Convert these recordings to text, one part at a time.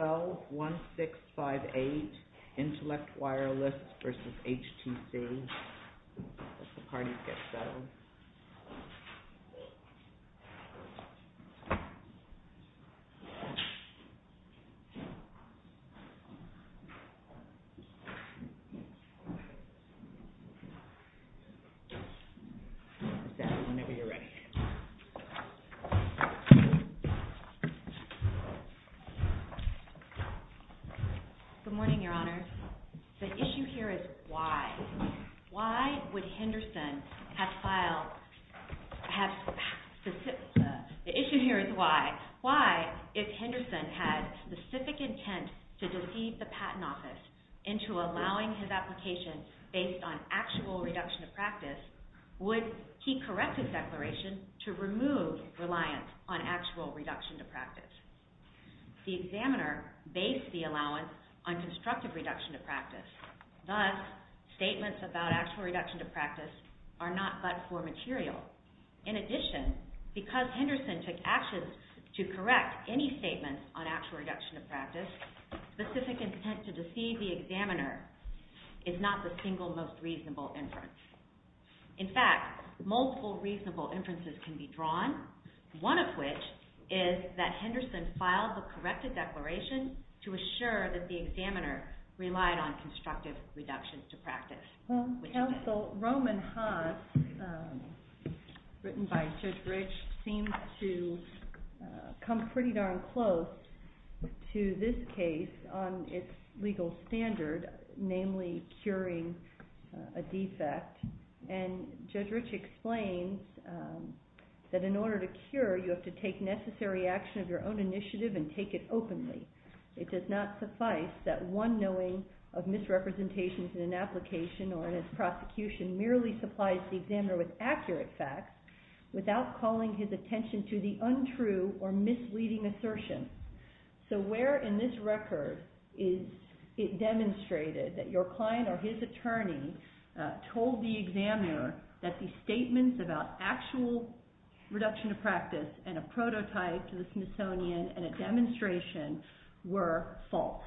L1658 INTELLECT WIRELESS v. HTC Good morning, Your Honor. The issue here is why. Why would Henderson have filed, have specific, the issue here is why. Why, if Henderson had specific intent to deceive the Patent Office into allowing his application based on actual reduction of practice, would he correct his declaration to remove reliance on actual reduction to practice? The examiner based the allowance on constructive reduction to practice. Thus, statements about actual reduction to practice are not but for material. In addition, because Henderson took actions to correct any statements on actual reduction to practice, specific intent to deceive the examiner is not the single most reasonable inference. In fact, multiple reasonable inferences can be drawn, one of which is that Henderson filed the corrected declaration to assure that the examiner relied on constructive reduction to practice. Counsel, Roman Haas, written by Judge Rich, seems to come pretty darn close to this case on its legal standard, namely curing a defect. And Judge Rich explains that in order to cure, you have to take necessary action of your own initiative and take it openly. It does not suffice that one knowing of misrepresentations in an application or in its prosecution merely supplies the examiner with accurate facts without calling his attention to the untrue or misleading assertion. So where in this record is it demonstrated that your client or his attorney told the examiner that the statements about actual reduction to practice and a prototype to the Smithsonian and a demonstration were false?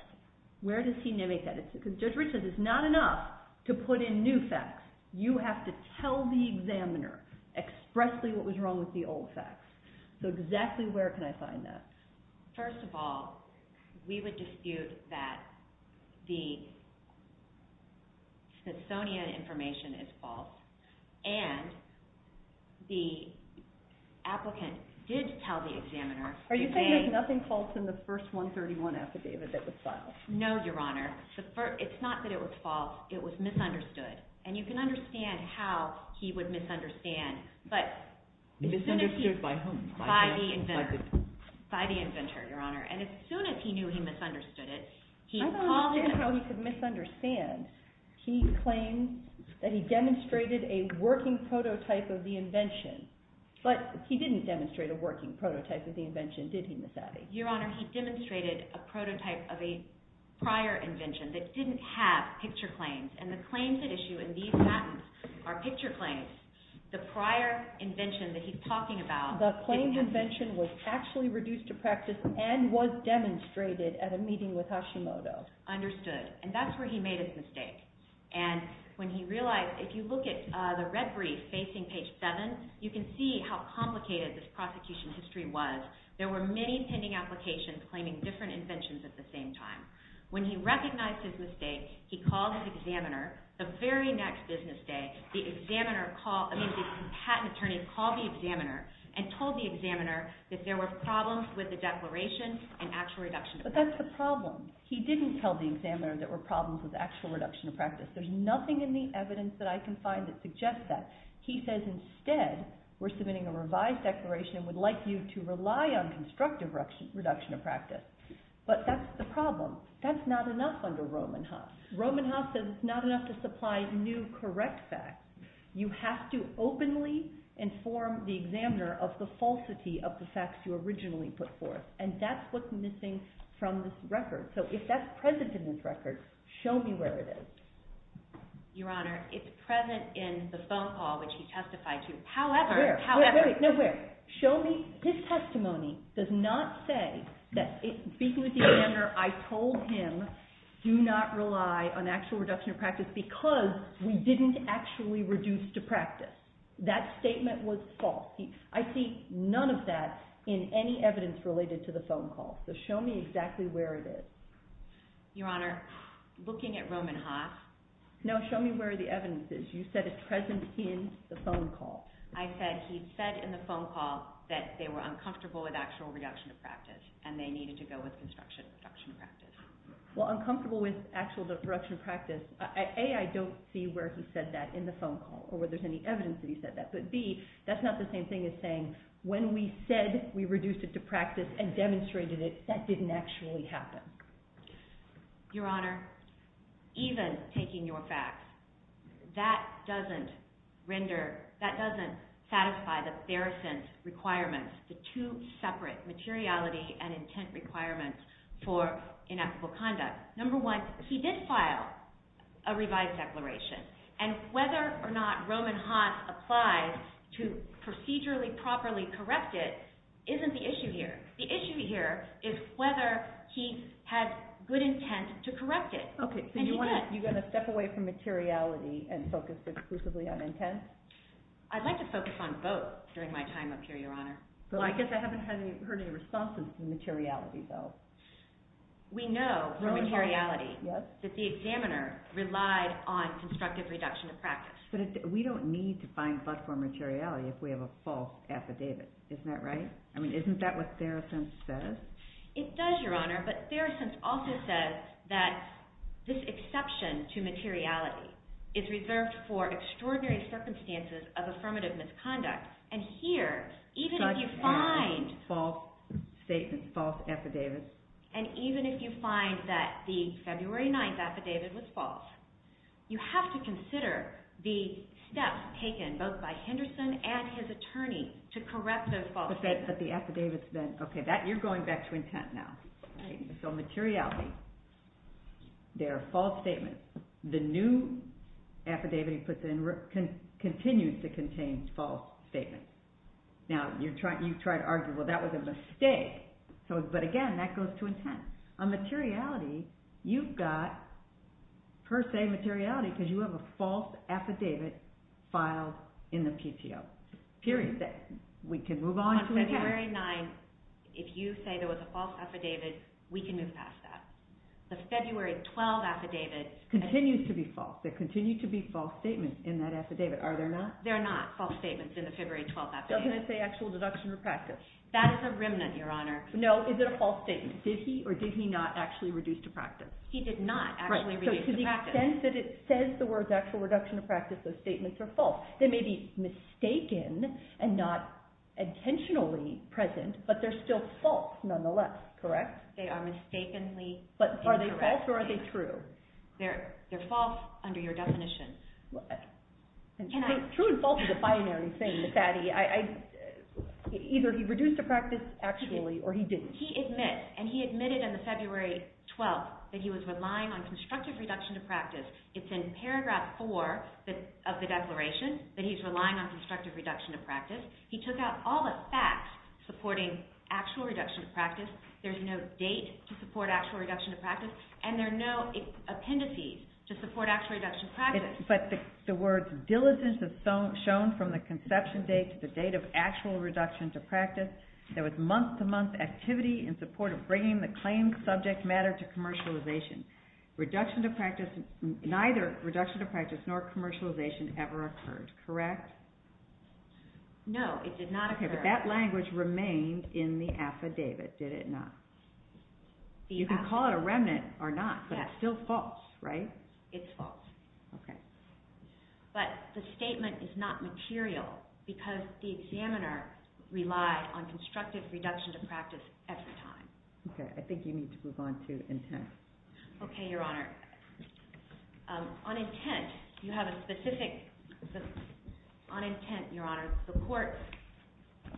Where does he mimic that? Because Judge Rich says it's not enough to put in new facts. You have to tell the examiner expressly what was wrong with the old facts. So exactly where can I find that? First of all, we would dispute that the Smithsonian information is false and the applicant did tell the examiner Are you saying there's nothing false in the first 131 affidavit that was filed? No, Your Honor. It's not that it was false. It was misunderstood. And you can understand how he would misunderstand. Misunderstood by whom? By the inventor, Your Honor. And as soon as he knew he misunderstood it, he called in. I don't understand how he could misunderstand. He claimed that he demonstrated a working prototype of the invention. But he didn't demonstrate a working prototype of the invention, did he, Miss Abbey? Your Honor, he demonstrated a prototype of a prior invention that didn't have picture claims. And the claims at issue in these patents are picture claims. The prior invention that he's talking about... The claimed invention was actually reduced to practice and was demonstrated at a meeting with Hashimoto. Understood. And that's where he made his mistake. And when he realized, if you look at the red brief facing page 7, you can see how complicated this prosecution history was. There were many pending applications claiming different inventions at the same time. When he recognized his mistake, he called his examiner. The very next business day, the examiner called... I mean, the patent attorney called the examiner and told the examiner that there were problems with the declaration and actual reduction of practice. But that's the problem. He didn't tell the examiner there were problems with actual reduction of practice. There's nothing in the evidence that I can find that suggests that. He says instead, we're submitting a revised declaration and would like you to rely on constructive reduction of practice. But that's the problem. That's not enough under Roman Haas. Roman Haas says it's not enough to supply new correct facts. You have to openly inform the examiner of the falsity of the facts you originally put forth. And that's what's missing from this record. So if that's present in this record, show me where it is. Your Honor, it's present in the phone call which he testified to. However... Show me... His testimony does not say that... Speaking with the examiner, I told him do not rely on actual reduction of practice because we didn't actually reduce to practice. That statement was false. I see none of that in any evidence related to the phone call. So show me exactly where it is. Your Honor, looking at Roman Haas... No, show me where the evidence is. You said it's present in the phone call. I said he said in the phone call that they were uncomfortable with actual reduction of practice and they needed to go with constructive reduction of practice. Well, uncomfortable with actual reduction of practice, A, I don't see where he said that in the phone call or where there's any evidence that he said that. But B, that's not the same thing as saying when we said we reduced it to practice and demonstrated it, that didn't actually happen. Your Honor, even taking your facts, that doesn't satisfy the Feruson's requirements, the two separate materiality and intent requirements for inequitable conduct. Number one, he did file a revised declaration. And whether or not Roman Haas applies to procedurally, properly correct it isn't the issue here. The issue here is whether he has good intent to correct it. Okay, so you're going to step away from materiality and focus exclusively on intent? I'd like to focus on both during my time up here, Your Honor. Well, I guess I haven't heard any responses to materiality, though. We know from materiality that the examiner relied on constructive reduction of practice. But we don't need to find but-for materiality if we have a false affidavit. Isn't that right? I mean, isn't that what Feruson says? It does, Your Honor, but Feruson also says that this exception to materiality is reserved for extraordinary circumstances of affirmative misconduct. And here, even if you find- Such as false statements, false affidavits. And even if you find that the February 9th affidavit was false, you have to consider the steps taken both by Henderson and his attorney to correct those false statements. But the affidavits then, okay, that you're going back to intent now. So materiality, they're false statements. The new affidavit he puts in continues to contain false statements. Now, you've tried to argue, well, that was a mistake. But again, that goes to intent. On materiality, you've got per se materiality because you have a false affidavit filed in the PTO. Period. We can move on to intent. The February 9th, if you say there was a false affidavit, we can move past that. The February 12th affidavit- Continues to be false. There continue to be false statements in that affidavit, are there not? There are not false statements in the February 12th affidavit. Doesn't it say actual deduction of practice? That is a remnant, Your Honor. No, is it a false statement? Did he or did he not actually reduce to practice? He did not actually reduce to practice. So to the extent that it says the words actual reduction of practice, those statements are false. They may be mistaken and not intentionally present, but they're still false nonetheless, correct? They are mistakenly incorrect. But are they false or are they true? They're false under your definition. True and false is a binary thing, Sadie. Either he reduced to practice actually or he didn't. He admits, and he admitted on the February 12th that he was relying on constructive reduction to practice. It's in paragraph 4 of the declaration that he's relying on constructive reduction to practice. He took out all the facts supporting actual reduction to practice. There's no date to support actual reduction to practice, and there are no appendices to support actual reduction to practice. But the words diligence is shown from the conception date to the date of actual reduction to practice. There was month-to-month activity in support of bringing the claimed subject matter to commercialization. Neither reduction to practice nor commercialization ever occurred, correct? No, it did not occur. But that language remained in the affidavit, did it not? You can call it a remnant or not, but it's still false, right? It's false. But the statement is not material because the examiner relied on constructive reduction to practice at the time. Okay, I think you need to move on to intent. Okay, Your Honor. On intent, you have a specific—on intent, Your Honor, the court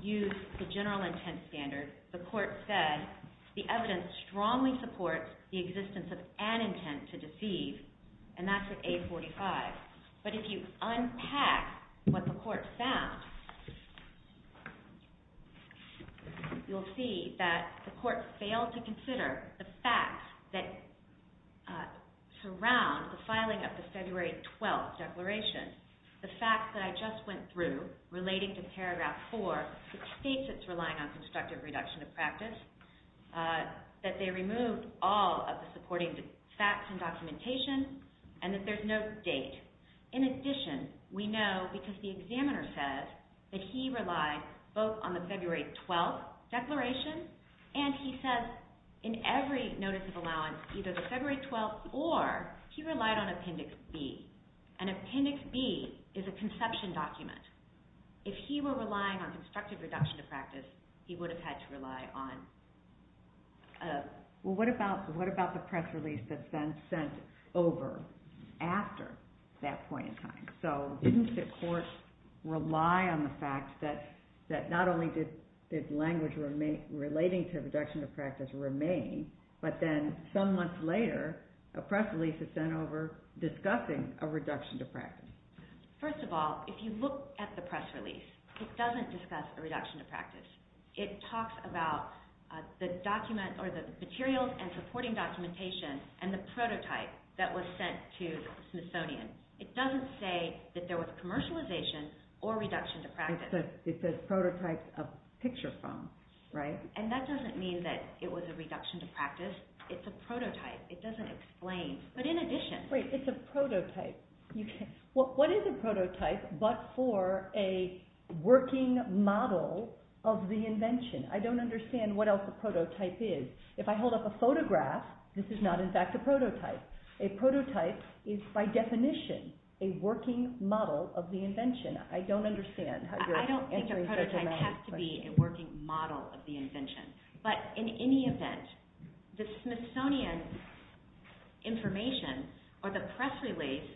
used the general intent standard. The court said the evidence strongly supports the existence of an intent to deceive, and that's with A45. But if you unpack what the court found, you'll see that the court failed to consider the facts that surround the filing of the February 12th declaration, the facts that I just went through relating to paragraph 4, which states it's relying on constructive reduction to practice, that they removed all of the supporting facts and documentation, and that there's no date. In addition, we know because the examiner says that he relied both on the February 12th declaration, and he says in every notice of allowance either the February 12th or he relied on Appendix B. And Appendix B is a conception document. If he were relying on constructive reduction to practice, he would have had to rely on— Well, what about the press release that's been sent over after that point in time? So didn't the court rely on the fact that not only did language relating to reduction to practice remain, but then some months later, a press release is sent over discussing a reduction to practice? First of all, if you look at the press release, it doesn't discuss a reduction to practice. It talks about the materials and supporting documentation and the prototype that was sent to the Smithsonian. It doesn't say that there was commercialization or reduction to practice. It says prototypes of picture phones, right? And that doesn't mean that it was a reduction to practice. It's a prototype. It doesn't explain. But in addition— Wait, it's a prototype. What is a prototype but for a working model of the invention? I don't understand what else a prototype is. If I hold up a photograph, this is not in fact a prototype. A prototype is by definition a working model of the invention. I don't understand. I don't think a prototype has to be a working model of the invention. But in any event, the Smithsonian information or the press release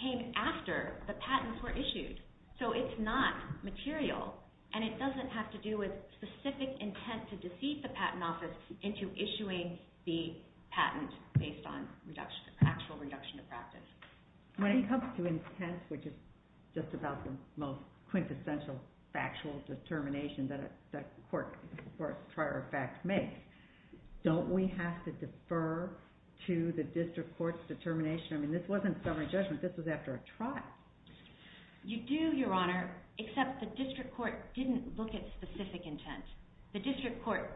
came after the patents were issued. So it's not material and it doesn't have to do with specific intent to deceive the patent office into issuing the patent based on actual reduction to practice. When it comes to intent, which is just about the most quintessential factual determination that a court, prior fact, makes, don't we have to defer to the district court's determination? I mean, this wasn't summary judgment. This was after a trial. You do, Your Honor, except the district court didn't look at specific intent. The district court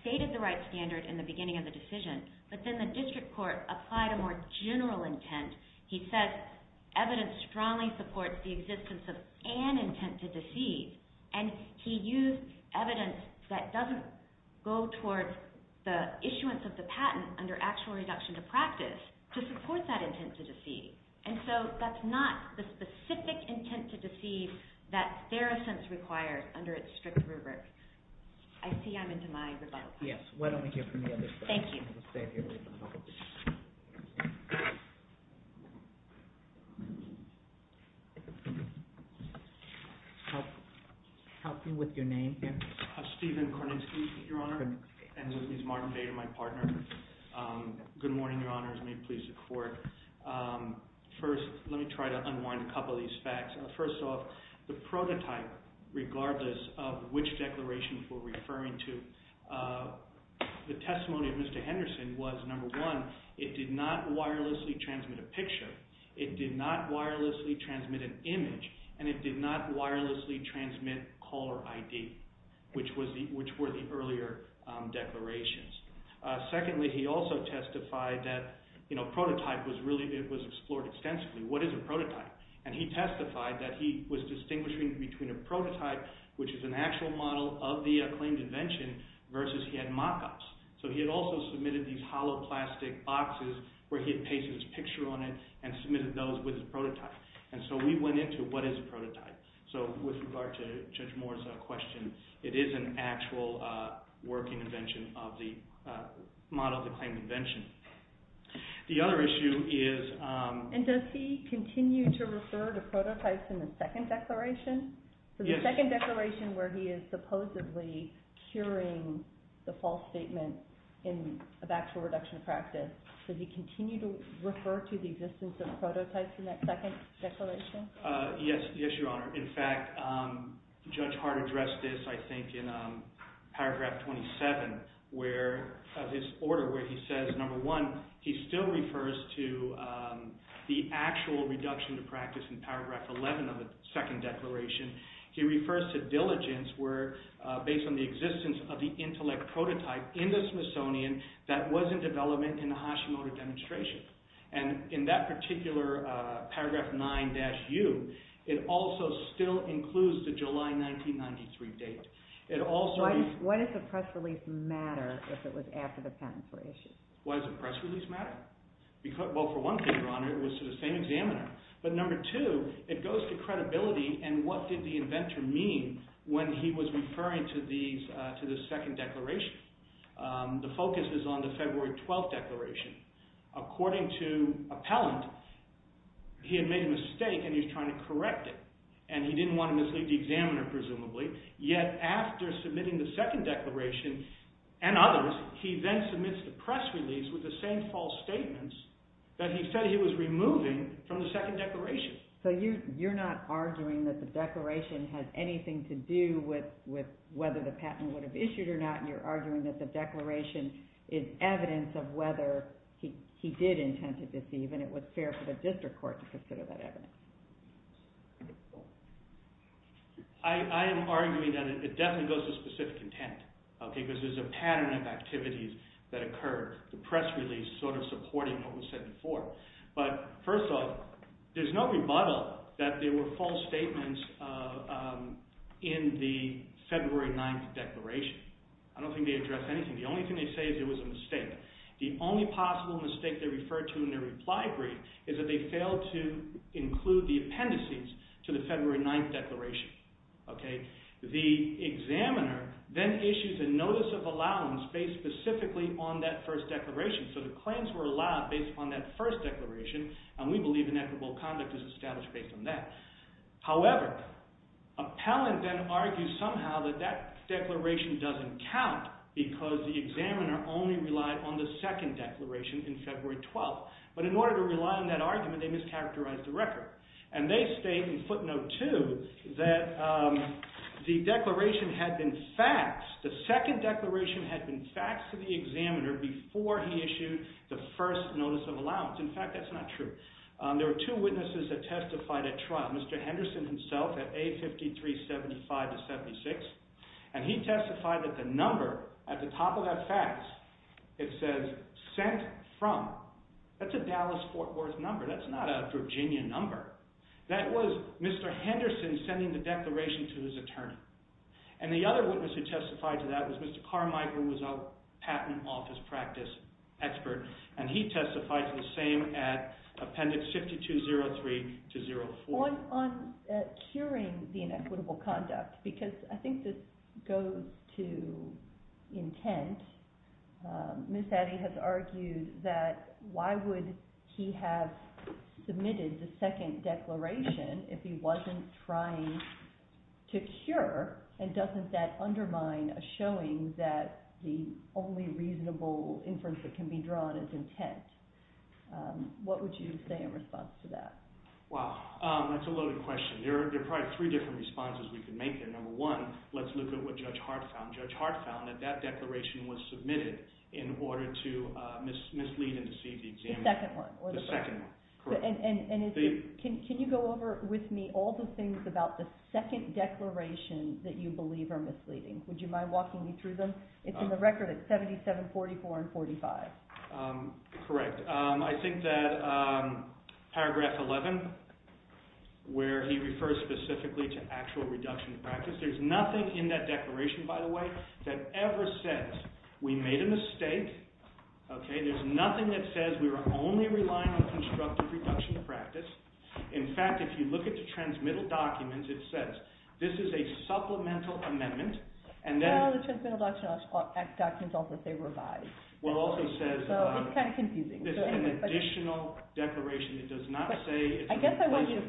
stated the right standard in the beginning of the decision, but then the district court applied a more general intent. He said evidence strongly supports the existence of an intent to deceive, and he used evidence that doesn't go towards the issuance of the patent under actual reduction to practice to support that intent to deceive. And so that's not the specific intent to deceive that Theracent requires under its strict rubric. I see I'm into my rebuttal time. Yes, why don't we hear from the other side. Thank you. Help me with your name here. Steven Korninski, Your Honor, and this is Martin Bader, my partner. Good morning, Your Honors. May it please the court. First, let me try to unwind a couple of these facts. First off, the prototype, regardless of which declaration we're referring to, the testimony of Mr. Henderson was, number one, it did not wirelessly transmit a picture, it did not wirelessly transmit an image, and it did not wirelessly transmit caller ID, which were the earlier declarations. Secondly, he also testified that prototype was explored extensively. What is a prototype? And he testified that he was distinguishing between a prototype, which is an actual model of the claimed invention, versus he had mock-ups. So he had also submitted these hollow plastic boxes where he had pasted his picture on it and submitted those with his prototype. And so we went into what is a prototype. So with regard to Judge Moore's question, it is an actual working invention of the model of the claimed invention. The other issue is- And does he continue to refer to prototypes in the second declaration? Yes. The second declaration where he is supposedly curing the false statement of actual reduction of practice, does he continue to refer to the existence of prototypes in that second declaration? Yes, Your Honor. In fact, Judge Hart addressed this, I think, in paragraph 27 of his order where he says, number one, he still refers to the actual reduction of practice in paragraph 11 of the second declaration. He refers to diligence where, based on the existence of the intellect prototype in the Smithsonian, that was in development in the Hashimoto demonstration. And in that particular paragraph 9-U, it also still includes the July 1993 date. It also- Why does the press release matter if it was after the patent for issue? Why does the press release matter? Well, for one thing, Your Honor, it was to the same examiner. But number two, it goes to credibility, and what did the inventor mean when he was referring to the second declaration? The focus is on the February 12th declaration. According to appellant, he had made a mistake and he was trying to correct it, and he didn't want to mislead the examiner, presumably. Yet, after submitting the second declaration and others, he then submits the press release with the same false statements that he said he was removing from the second declaration. So you're not arguing that the declaration has anything to do with whether the patent would have issued or not. You're arguing that the declaration is evidence of whether he did intend to deceive, and it was fair for the district court to consider that evidence. I am arguing that it definitely goes to specific intent, because there's a pattern of activities that occur, the press release sort of supporting what was said before. But first off, there's no rebuttal that there were false statements in the February 9th declaration. I don't think they address anything. The only thing they say is it was a mistake. The only possible mistake they referred to in their reply brief is that they failed to include the appendices to the February 9th declaration. The examiner then issues a notice of allowance based specifically on that first declaration. So the claims were allowed based on that first declaration, and we believe inequitable conduct is established based on that. However, appellant then argues somehow that that declaration doesn't count because the examiner only relied on the second declaration in February 12th. But in order to rely on that argument, they mischaracterized the record. And they state in footnote 2 that the declaration had been faxed, the second declaration had been faxed to the examiner before he issued the first notice of allowance. In fact, that's not true. There were two witnesses that testified at trial, Mr. Henderson himself at A5375-76, and he testified that the number at the top of that fax, it says sent from. That's a Dallas-Fort Worth number. That's not a Virginia number. That was Mr. Henderson sending the declaration to his attorney. And the other witness who testified to that was Mr. Carmichael, who was a patent office practice expert, and he testified to the same at appendix 5203-04. On curing the inequitable conduct, because I think this goes to intent, Ms. Addy has argued that why would he have submitted the second declaration if he wasn't trying to cure, and doesn't that undermine a showing that the only reasonable inference that can be drawn is intent? What would you say in response to that? Wow, that's a loaded question. There are probably three different responses we can make here. Number one, let's look at what Judge Hart found. Judge Hart found that that declaration was submitted in order to mislead and deceive the examiner. The second one. The second one, correct. Can you go over with me all the things about the second declaration that you believe are misleading? Would you mind walking me through them? It's in the record. It's 77, 44, and 45. Correct. I think that paragraph 11, where he refers specifically to actual reduction in practice, there's nothing in that declaration, by the way, that ever says we made a mistake. There's nothing that says we were only relying on constructive reduction in practice. In fact, if you look at the transmittal documents, it says this is a supplemental amendment. Well, the transmittal documents also say revised. Well, it also says it's an additional declaration.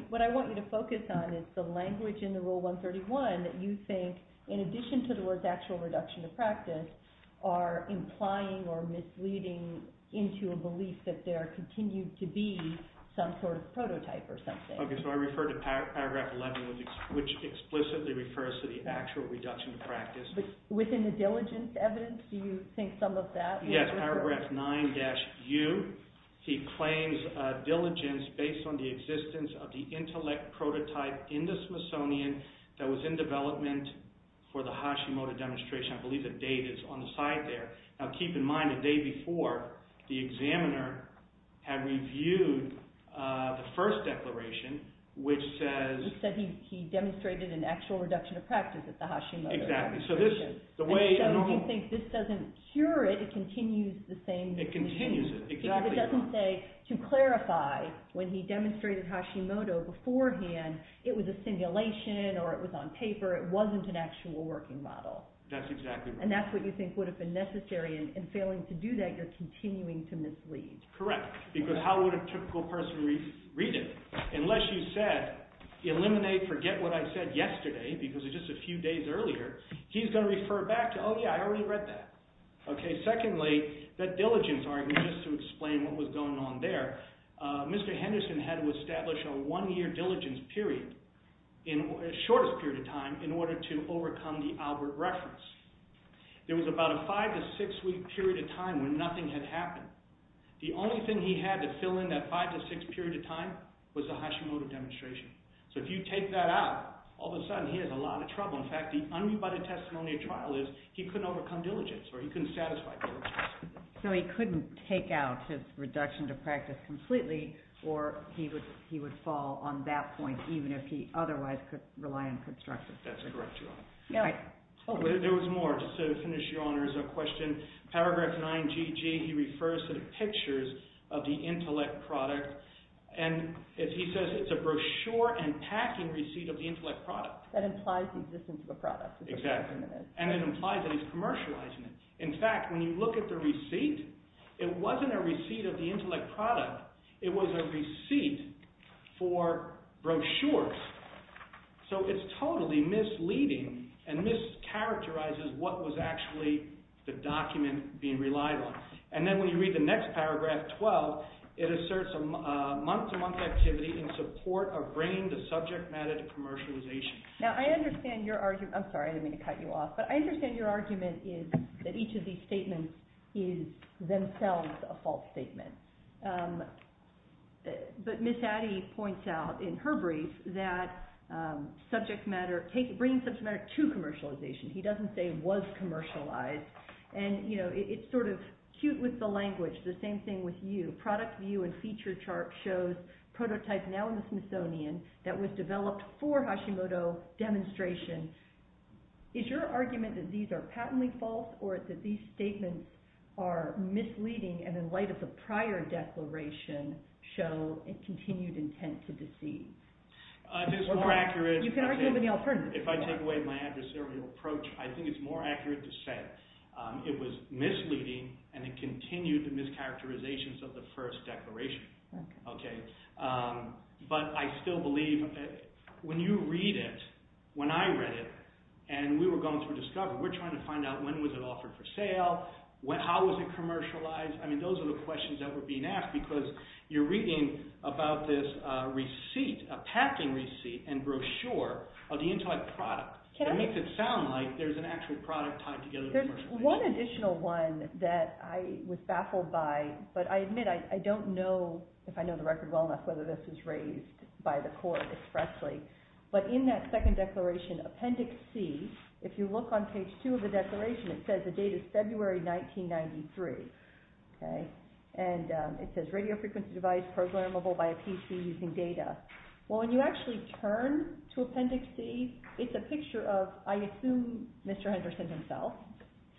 What I want you to focus on is the language in the Rule 131 that you think, in addition to the words actual reduction in practice, are implying or misleading into a belief that there continues to be some sort of prototype or something. Okay, so I refer to paragraph 11, which explicitly refers to the actual reduction in practice. Within the diligence evidence, do you think some of that? Yes, paragraph 9-U, he claims diligence based on the existence of the intellect prototype in the Smithsonian that was in development for the Hashimoto demonstration. I believe the date is on the side there. Now, keep in mind, the day before, the examiner had reviewed the first declaration, which says— He said he demonstrated an actual reduction of practice at the Hashimoto demonstration. Exactly. And so you think this doesn't cure it. It continues the same— It continues it, exactly. It doesn't say, to clarify, when he demonstrated Hashimoto beforehand, it was a simulation or it was on paper. It wasn't an actual working model. That's exactly right. And that's what you think would have been necessary. In failing to do that, you're continuing to mislead. Correct, because how would a typical person read it? Unless you said, eliminate, forget what I said yesterday because it's just a few days earlier, he's going to refer back to, oh, yeah, I already read that. Secondly, that diligence argument, just to explain what was going on there, Mr. Henderson had to establish a one-year diligence period, the shortest period of time, in order to overcome the Albert reference. There was about a five- to six-week period of time when nothing had happened. The only thing he had to fill in that five- to six-week period of time was the Hashimoto demonstration. So if you take that out, all of a sudden he has a lot of trouble. In fact, the unrebutted testimony of trial is he couldn't overcome diligence or he couldn't satisfy diligence. So he couldn't take out his reduction to practice completely, or he would fall on that point even if he otherwise could rely on construction. That's correct, Your Honor. There was more, just to finish, Your Honor, as a question. Paragraph 9GG, he refers to the pictures of the intellect product, and he says it's a brochure and packing receipt of the intellect product. That implies the existence of the product. Exactly, and it implies that he's commercializing it. In fact, when you look at the receipt, it wasn't a receipt of the intellect product. It was a receipt for brochures. So it's totally misleading and mischaracterizes what was actually the document being relied on. And then when you read the next paragraph, 12, it asserts a month-to-month activity in support of bringing the subject matter to commercialization. Now, I understand your argument. I'm sorry, I didn't mean to cut you off, but I understand your argument is that each of these statements is themselves a false statement. But Ms. Addy points out in her brief that bringing subject matter to commercialization, he doesn't say was commercialized, and it's sort of cute with the language, the same thing with you. Product view and feature chart shows prototypes now in the Smithsonian that was developed for Hashimoto demonstration. Is your argument that these are patently false or that these statements are misleading and in light of the prior declaration show a continued intent to deceive? I think it's more accurate if I take away my adversarial approach. I think it's more accurate to say it was misleading and it continued the mischaracterizations of the first declaration. But I still believe when you read it, when I read it, and we were going through discovery, we're trying to find out when was it offered for sale, how was it commercialized. I mean, those are the questions that were being asked because you're reading about this receipt, a packing receipt and brochure of the entire product. It makes it sound like there's an actual product tied together commercially. There's one additional one that I was baffled by, but I admit I don't know, if I know the record well enough, whether this was raised by the court expressly. But in that second declaration, Appendix C, if you look on page 2 of the declaration, it says the date is February 1993. And it says radio frequency device programmable by a PC using data. Well, when you actually turn to Appendix C, it's a picture of, I assume, Mr. Henderson himself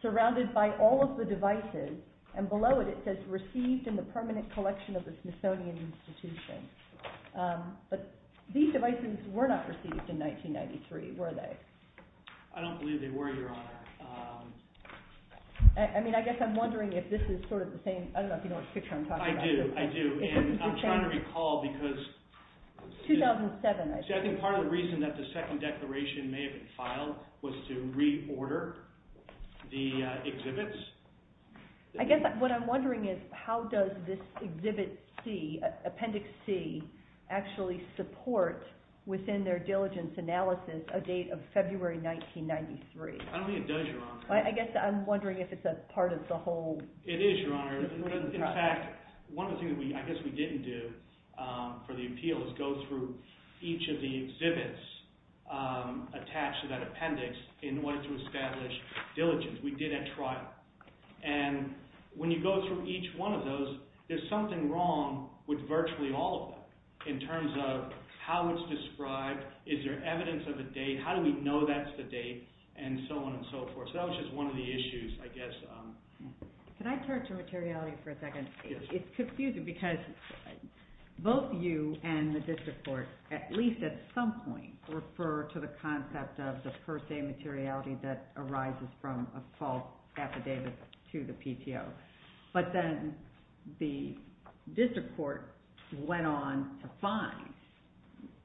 surrounded by all of the devices. And below it, it says received in the permanent collection of the Smithsonian Institution. But these devices were not received in 1993, were they? I don't believe they were, Your Honor. I mean, I guess I'm wondering if this is sort of the same. I don't know if you know which picture I'm talking about. I do, I do. And I'm trying to recall because- 2007, I think. See, I think part of the reason that the second declaration may have been filed was to reorder the exhibits. I guess what I'm wondering is how does this Exhibit C, Appendix C, actually support within their diligence analysis a date of February 1993? I don't think it does, Your Honor. I guess I'm wondering if it's a part of the whole- It is, Your Honor. In fact, one of the things I guess we didn't do for the appeal is go through each of the exhibits attached to that appendix in order to establish diligence. We did at trial. And when you go through each one of those, there's something wrong with virtually all of them in terms of how it's described, is there evidence of a date, how do we know that's the date, and so on and so forth. So that was just one of the issues, I guess. Can I turn to materiality for a second? It's confusing because both you and the district court, at least at some point, refer to the concept of the per se materiality that arises from a false affidavit to the PTO. But then the district court went on to find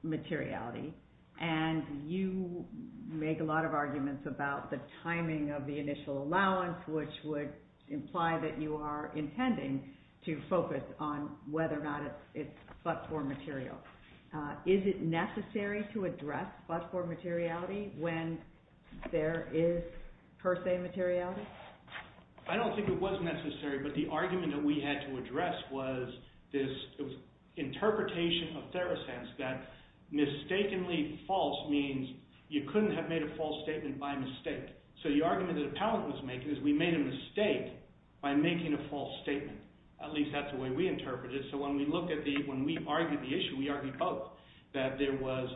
materiality, and you make a lot of arguments about the timing of the initial allowance, which would imply that you are intending to focus on whether or not it's but-for material. Is it necessary to address but-for materiality when there is per se materiality? I don't think it was necessary, but the argument that we had to address was this interpretation of Theracense that mistakenly false means you couldn't have made a false statement by mistake. So the argument that Appellant was making is we made a mistake by making a false statement. At least that's the way we interpreted it. So when we argued the issue, we argued both, that there was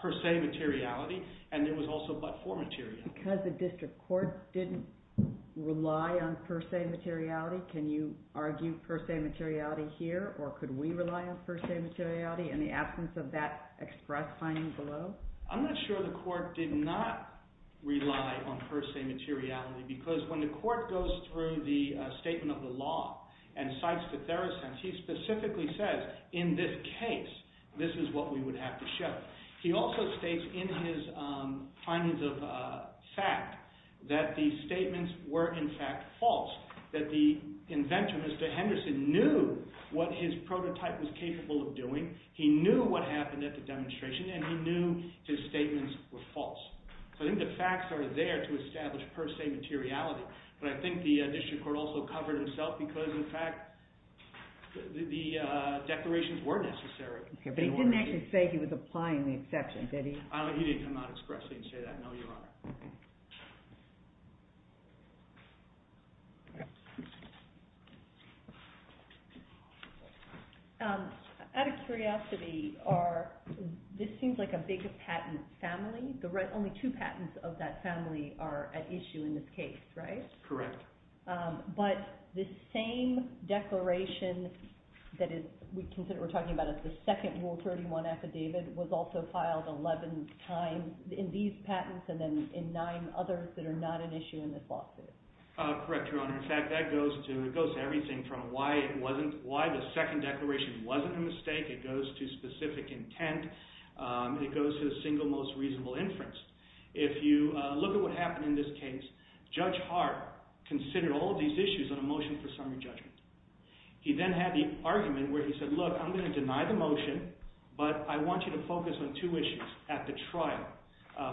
per se materiality and there was also but-for materiality. Because the district court didn't rely on per se materiality, can you argue per se materiality here, or could we rely on per se materiality in the absence of that express finding below? I'm not sure the court did not rely on per se materiality because when the court goes through the statement of the law and cites the Theracense, he specifically says, in this case, this is what we would have to show. He also states in his findings of fact that the statements were in fact false, that the inventor, Mr. Henderson, knew what his prototype was capable of doing, he knew what happened at the demonstration, and he knew his statements were false. So I think the facts are there to establish per se materiality, but I think the district court also covered himself because in fact the declarations were necessary. But he didn't actually say he was applying the exception, did he? He didn't come out expressly and say that, no, Your Honor. Okay. Out of curiosity, this seems like a big patent family. Only two patents of that family are at issue in this case, right? Correct. But the same declaration that we're talking about as the second Rule 31 affidavit was also filed 11 times in these patents and then in nine others that are not at issue in this lawsuit. Correct, Your Honor. In fact, that goes to everything from why the second declaration wasn't a mistake. It goes to specific intent. It goes to the single most reasonable inference. If you look at what happened in this case, Judge Hart considered all of these issues on a motion for summary judgment. He then had the argument where he said, look, I'm going to deny the motion, but I want you to focus on two issues at the trial.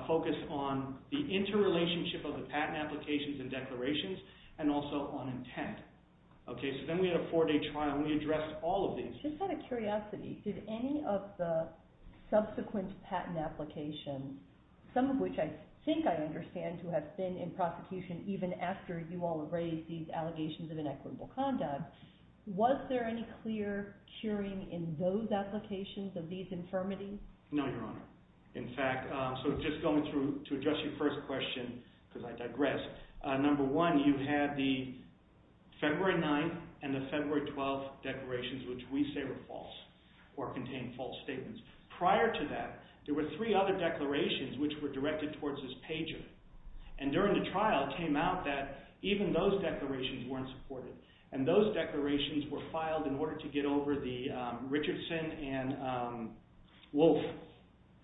Focus on the interrelationship of the patent applications and declarations and also on intent. Okay, so then we had a four-day trial and we addressed all of these. Just out of curiosity, did any of the subsequent patent applications, some of which I think I understand to have been in prosecution even after you all have raised these allegations of inequitable conduct, was there any clear curing in those applications of these infirmities? No, Your Honor. In fact, so just going through to address your first question, because I digress, number one, you had the February 9th and the February 12th declarations, which we say were false or contained false statements. Prior to that, there were three other declarations which were directed towards this pager, and during the trial it came out that even those declarations weren't supported, and those declarations were filed in order to get over the Richardson and Wolf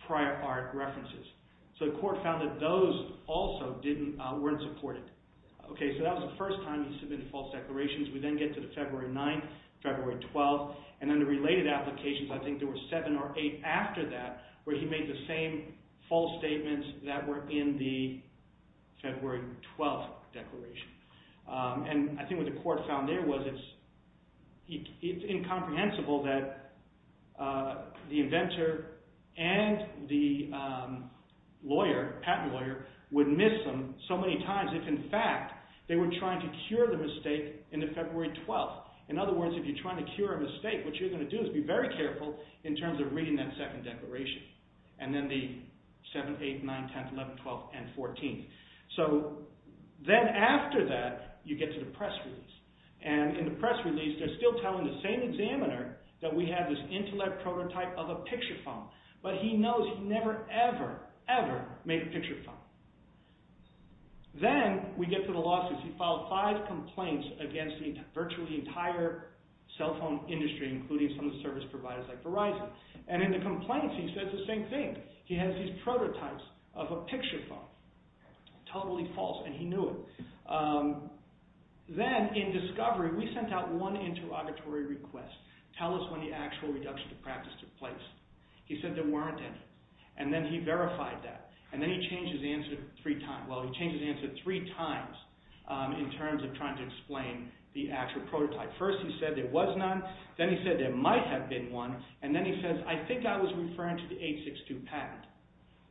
prior part references. So the court found that those also weren't supported. Okay, so that was the first time he submitted false declarations. We then get to the February 9th, February 12th, and then the related applications, I think there were seven or eight after that where he made the same false statements that were in the February 12th declaration. And I think what the court found there was it's incomprehensible that the inventor and the lawyer, patent lawyer, would miss them so many times if, in fact, they were trying to cure the mistake in the February 12th. In other words, if you're trying to cure a mistake, what you're going to do is be very careful in terms of reading that second declaration, and then the 7th, 8th, 9th, 10th, 11th, 12th, and 14th. So then after that, you get to the press release. And in the press release, they're still telling the same examiner that we have this intellect prototype of a picture phone, but he knows he never, ever, ever made a picture phone. Then we get to the lawsuits. He filed five complaints against the virtually entire cell phone industry, including some of the service providers like Verizon. And in the complaints, he said the same thing. He has these prototypes of a picture phone. Totally false, and he knew it. Then in discovery, we sent out one interrogatory request. Tell us when the actual reduction of practice took place. He said there weren't any, and then he verified that. And then he changed his answer three times. Well, he changed his answer three times in terms of trying to explain the actual prototype. First he said there was none. Then he said there might have been one. And then he says, I think I was referring to the 862 patent,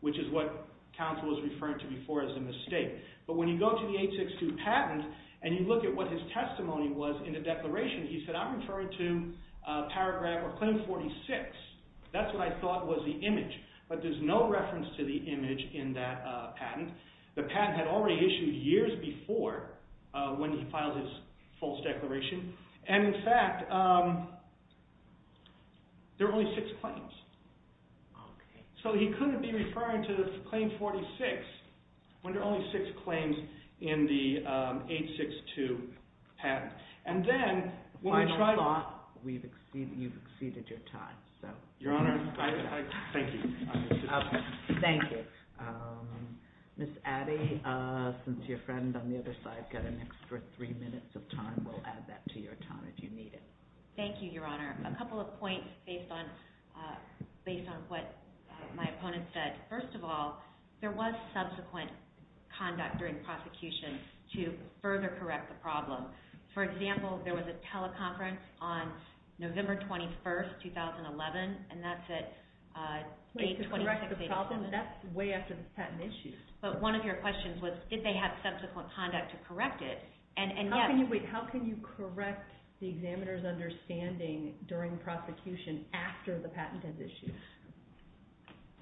which is what counsel was referring to before as a mistake. But when you go to the 862 patent and you look at what his testimony was in the declaration, he said, I'm referring to paragraph or claim 46. That's what I thought was the image. But there's no reference to the image in that patent. The patent had already issued years before when he filed his false declaration. And in fact, there were only six claims. So he couldn't be referring to the claim 46 when there are only six claims in the 862 patent. And then when we tried to— I thought you've exceeded your time. Your Honor, thank you. Thank you. Ms. Addy, since your friend on the other side got an extra three minutes of time, we'll add that to your time if you need it. Thank you, Your Honor. A couple of points based on what my opponent said. First of all, there was subsequent conduct during prosecution to further correct the problem. For example, there was a teleconference on November 21, 2011, and that's at— Wait, to correct the problem? That's way after the patent issue. But one of your questions was, did they have subsequent conduct to correct it? How can you correct the examiner's understanding during prosecution after the patent has issued?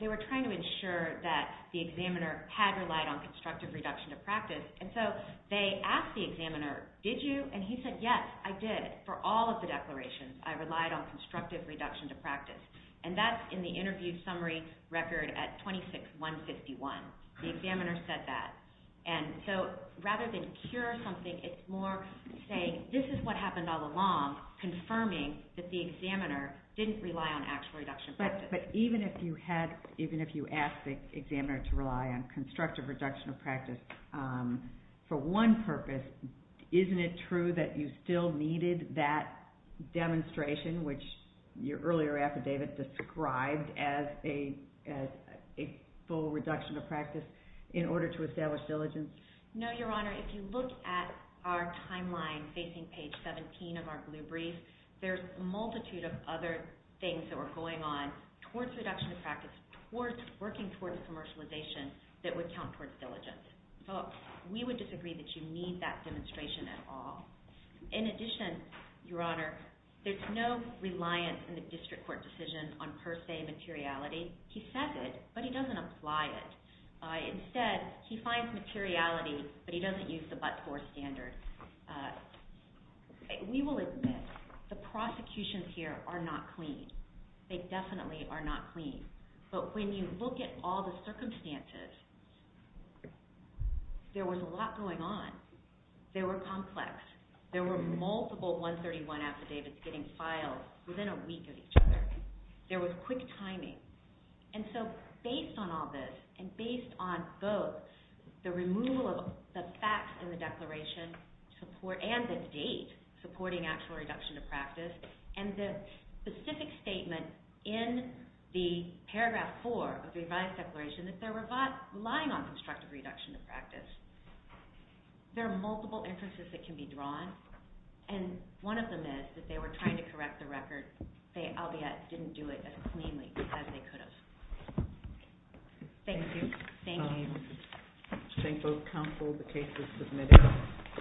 They were trying to ensure that the examiner had relied on constructive reduction to practice. And so they asked the examiner, did you? And he said, yes, I did. For all of the declarations, I relied on constructive reduction to practice. And that's in the interview summary record at 26-151. The examiner said that. And so rather than cure something, it's more saying, this is what happened all along, confirming that the examiner didn't rely on actual reduction of practice. But even if you asked the examiner to rely on constructive reduction of practice for one purpose, isn't it true that you still needed that demonstration, which your earlier affidavit described as a full reduction of practice, in order to establish diligence? No, Your Honor. If you look at our timeline facing page 17 of our blue brief, there's a multitude of other things that were going on towards reduction of practice, working towards commercialization that would count towards diligence. So we would disagree that you need that demonstration at all. In addition, Your Honor, there's no reliance in the district court decision on per se materiality. He says it, but he doesn't apply it. Instead, he finds materiality, but he doesn't use the but-for standard. We will admit the prosecutions here are not clean. They definitely are not clean. But when you look at all the circumstances, there was a lot going on. They were complex. There were multiple 131 affidavits getting filed within a week of each other. There was quick timing. And so based on all this and based on both the removal of the facts in the declaration and the date supporting actual reduction of practice and the specific statement in the paragraph 4 of the revised declaration that they're relying on constructive reduction of practice, there are multiple inferences that can be drawn, and one of them is that they were trying to correct the record, albeit didn't do it as cleanly as they could have. Thank you. Thank you. Thank both counsel. The case is submitted.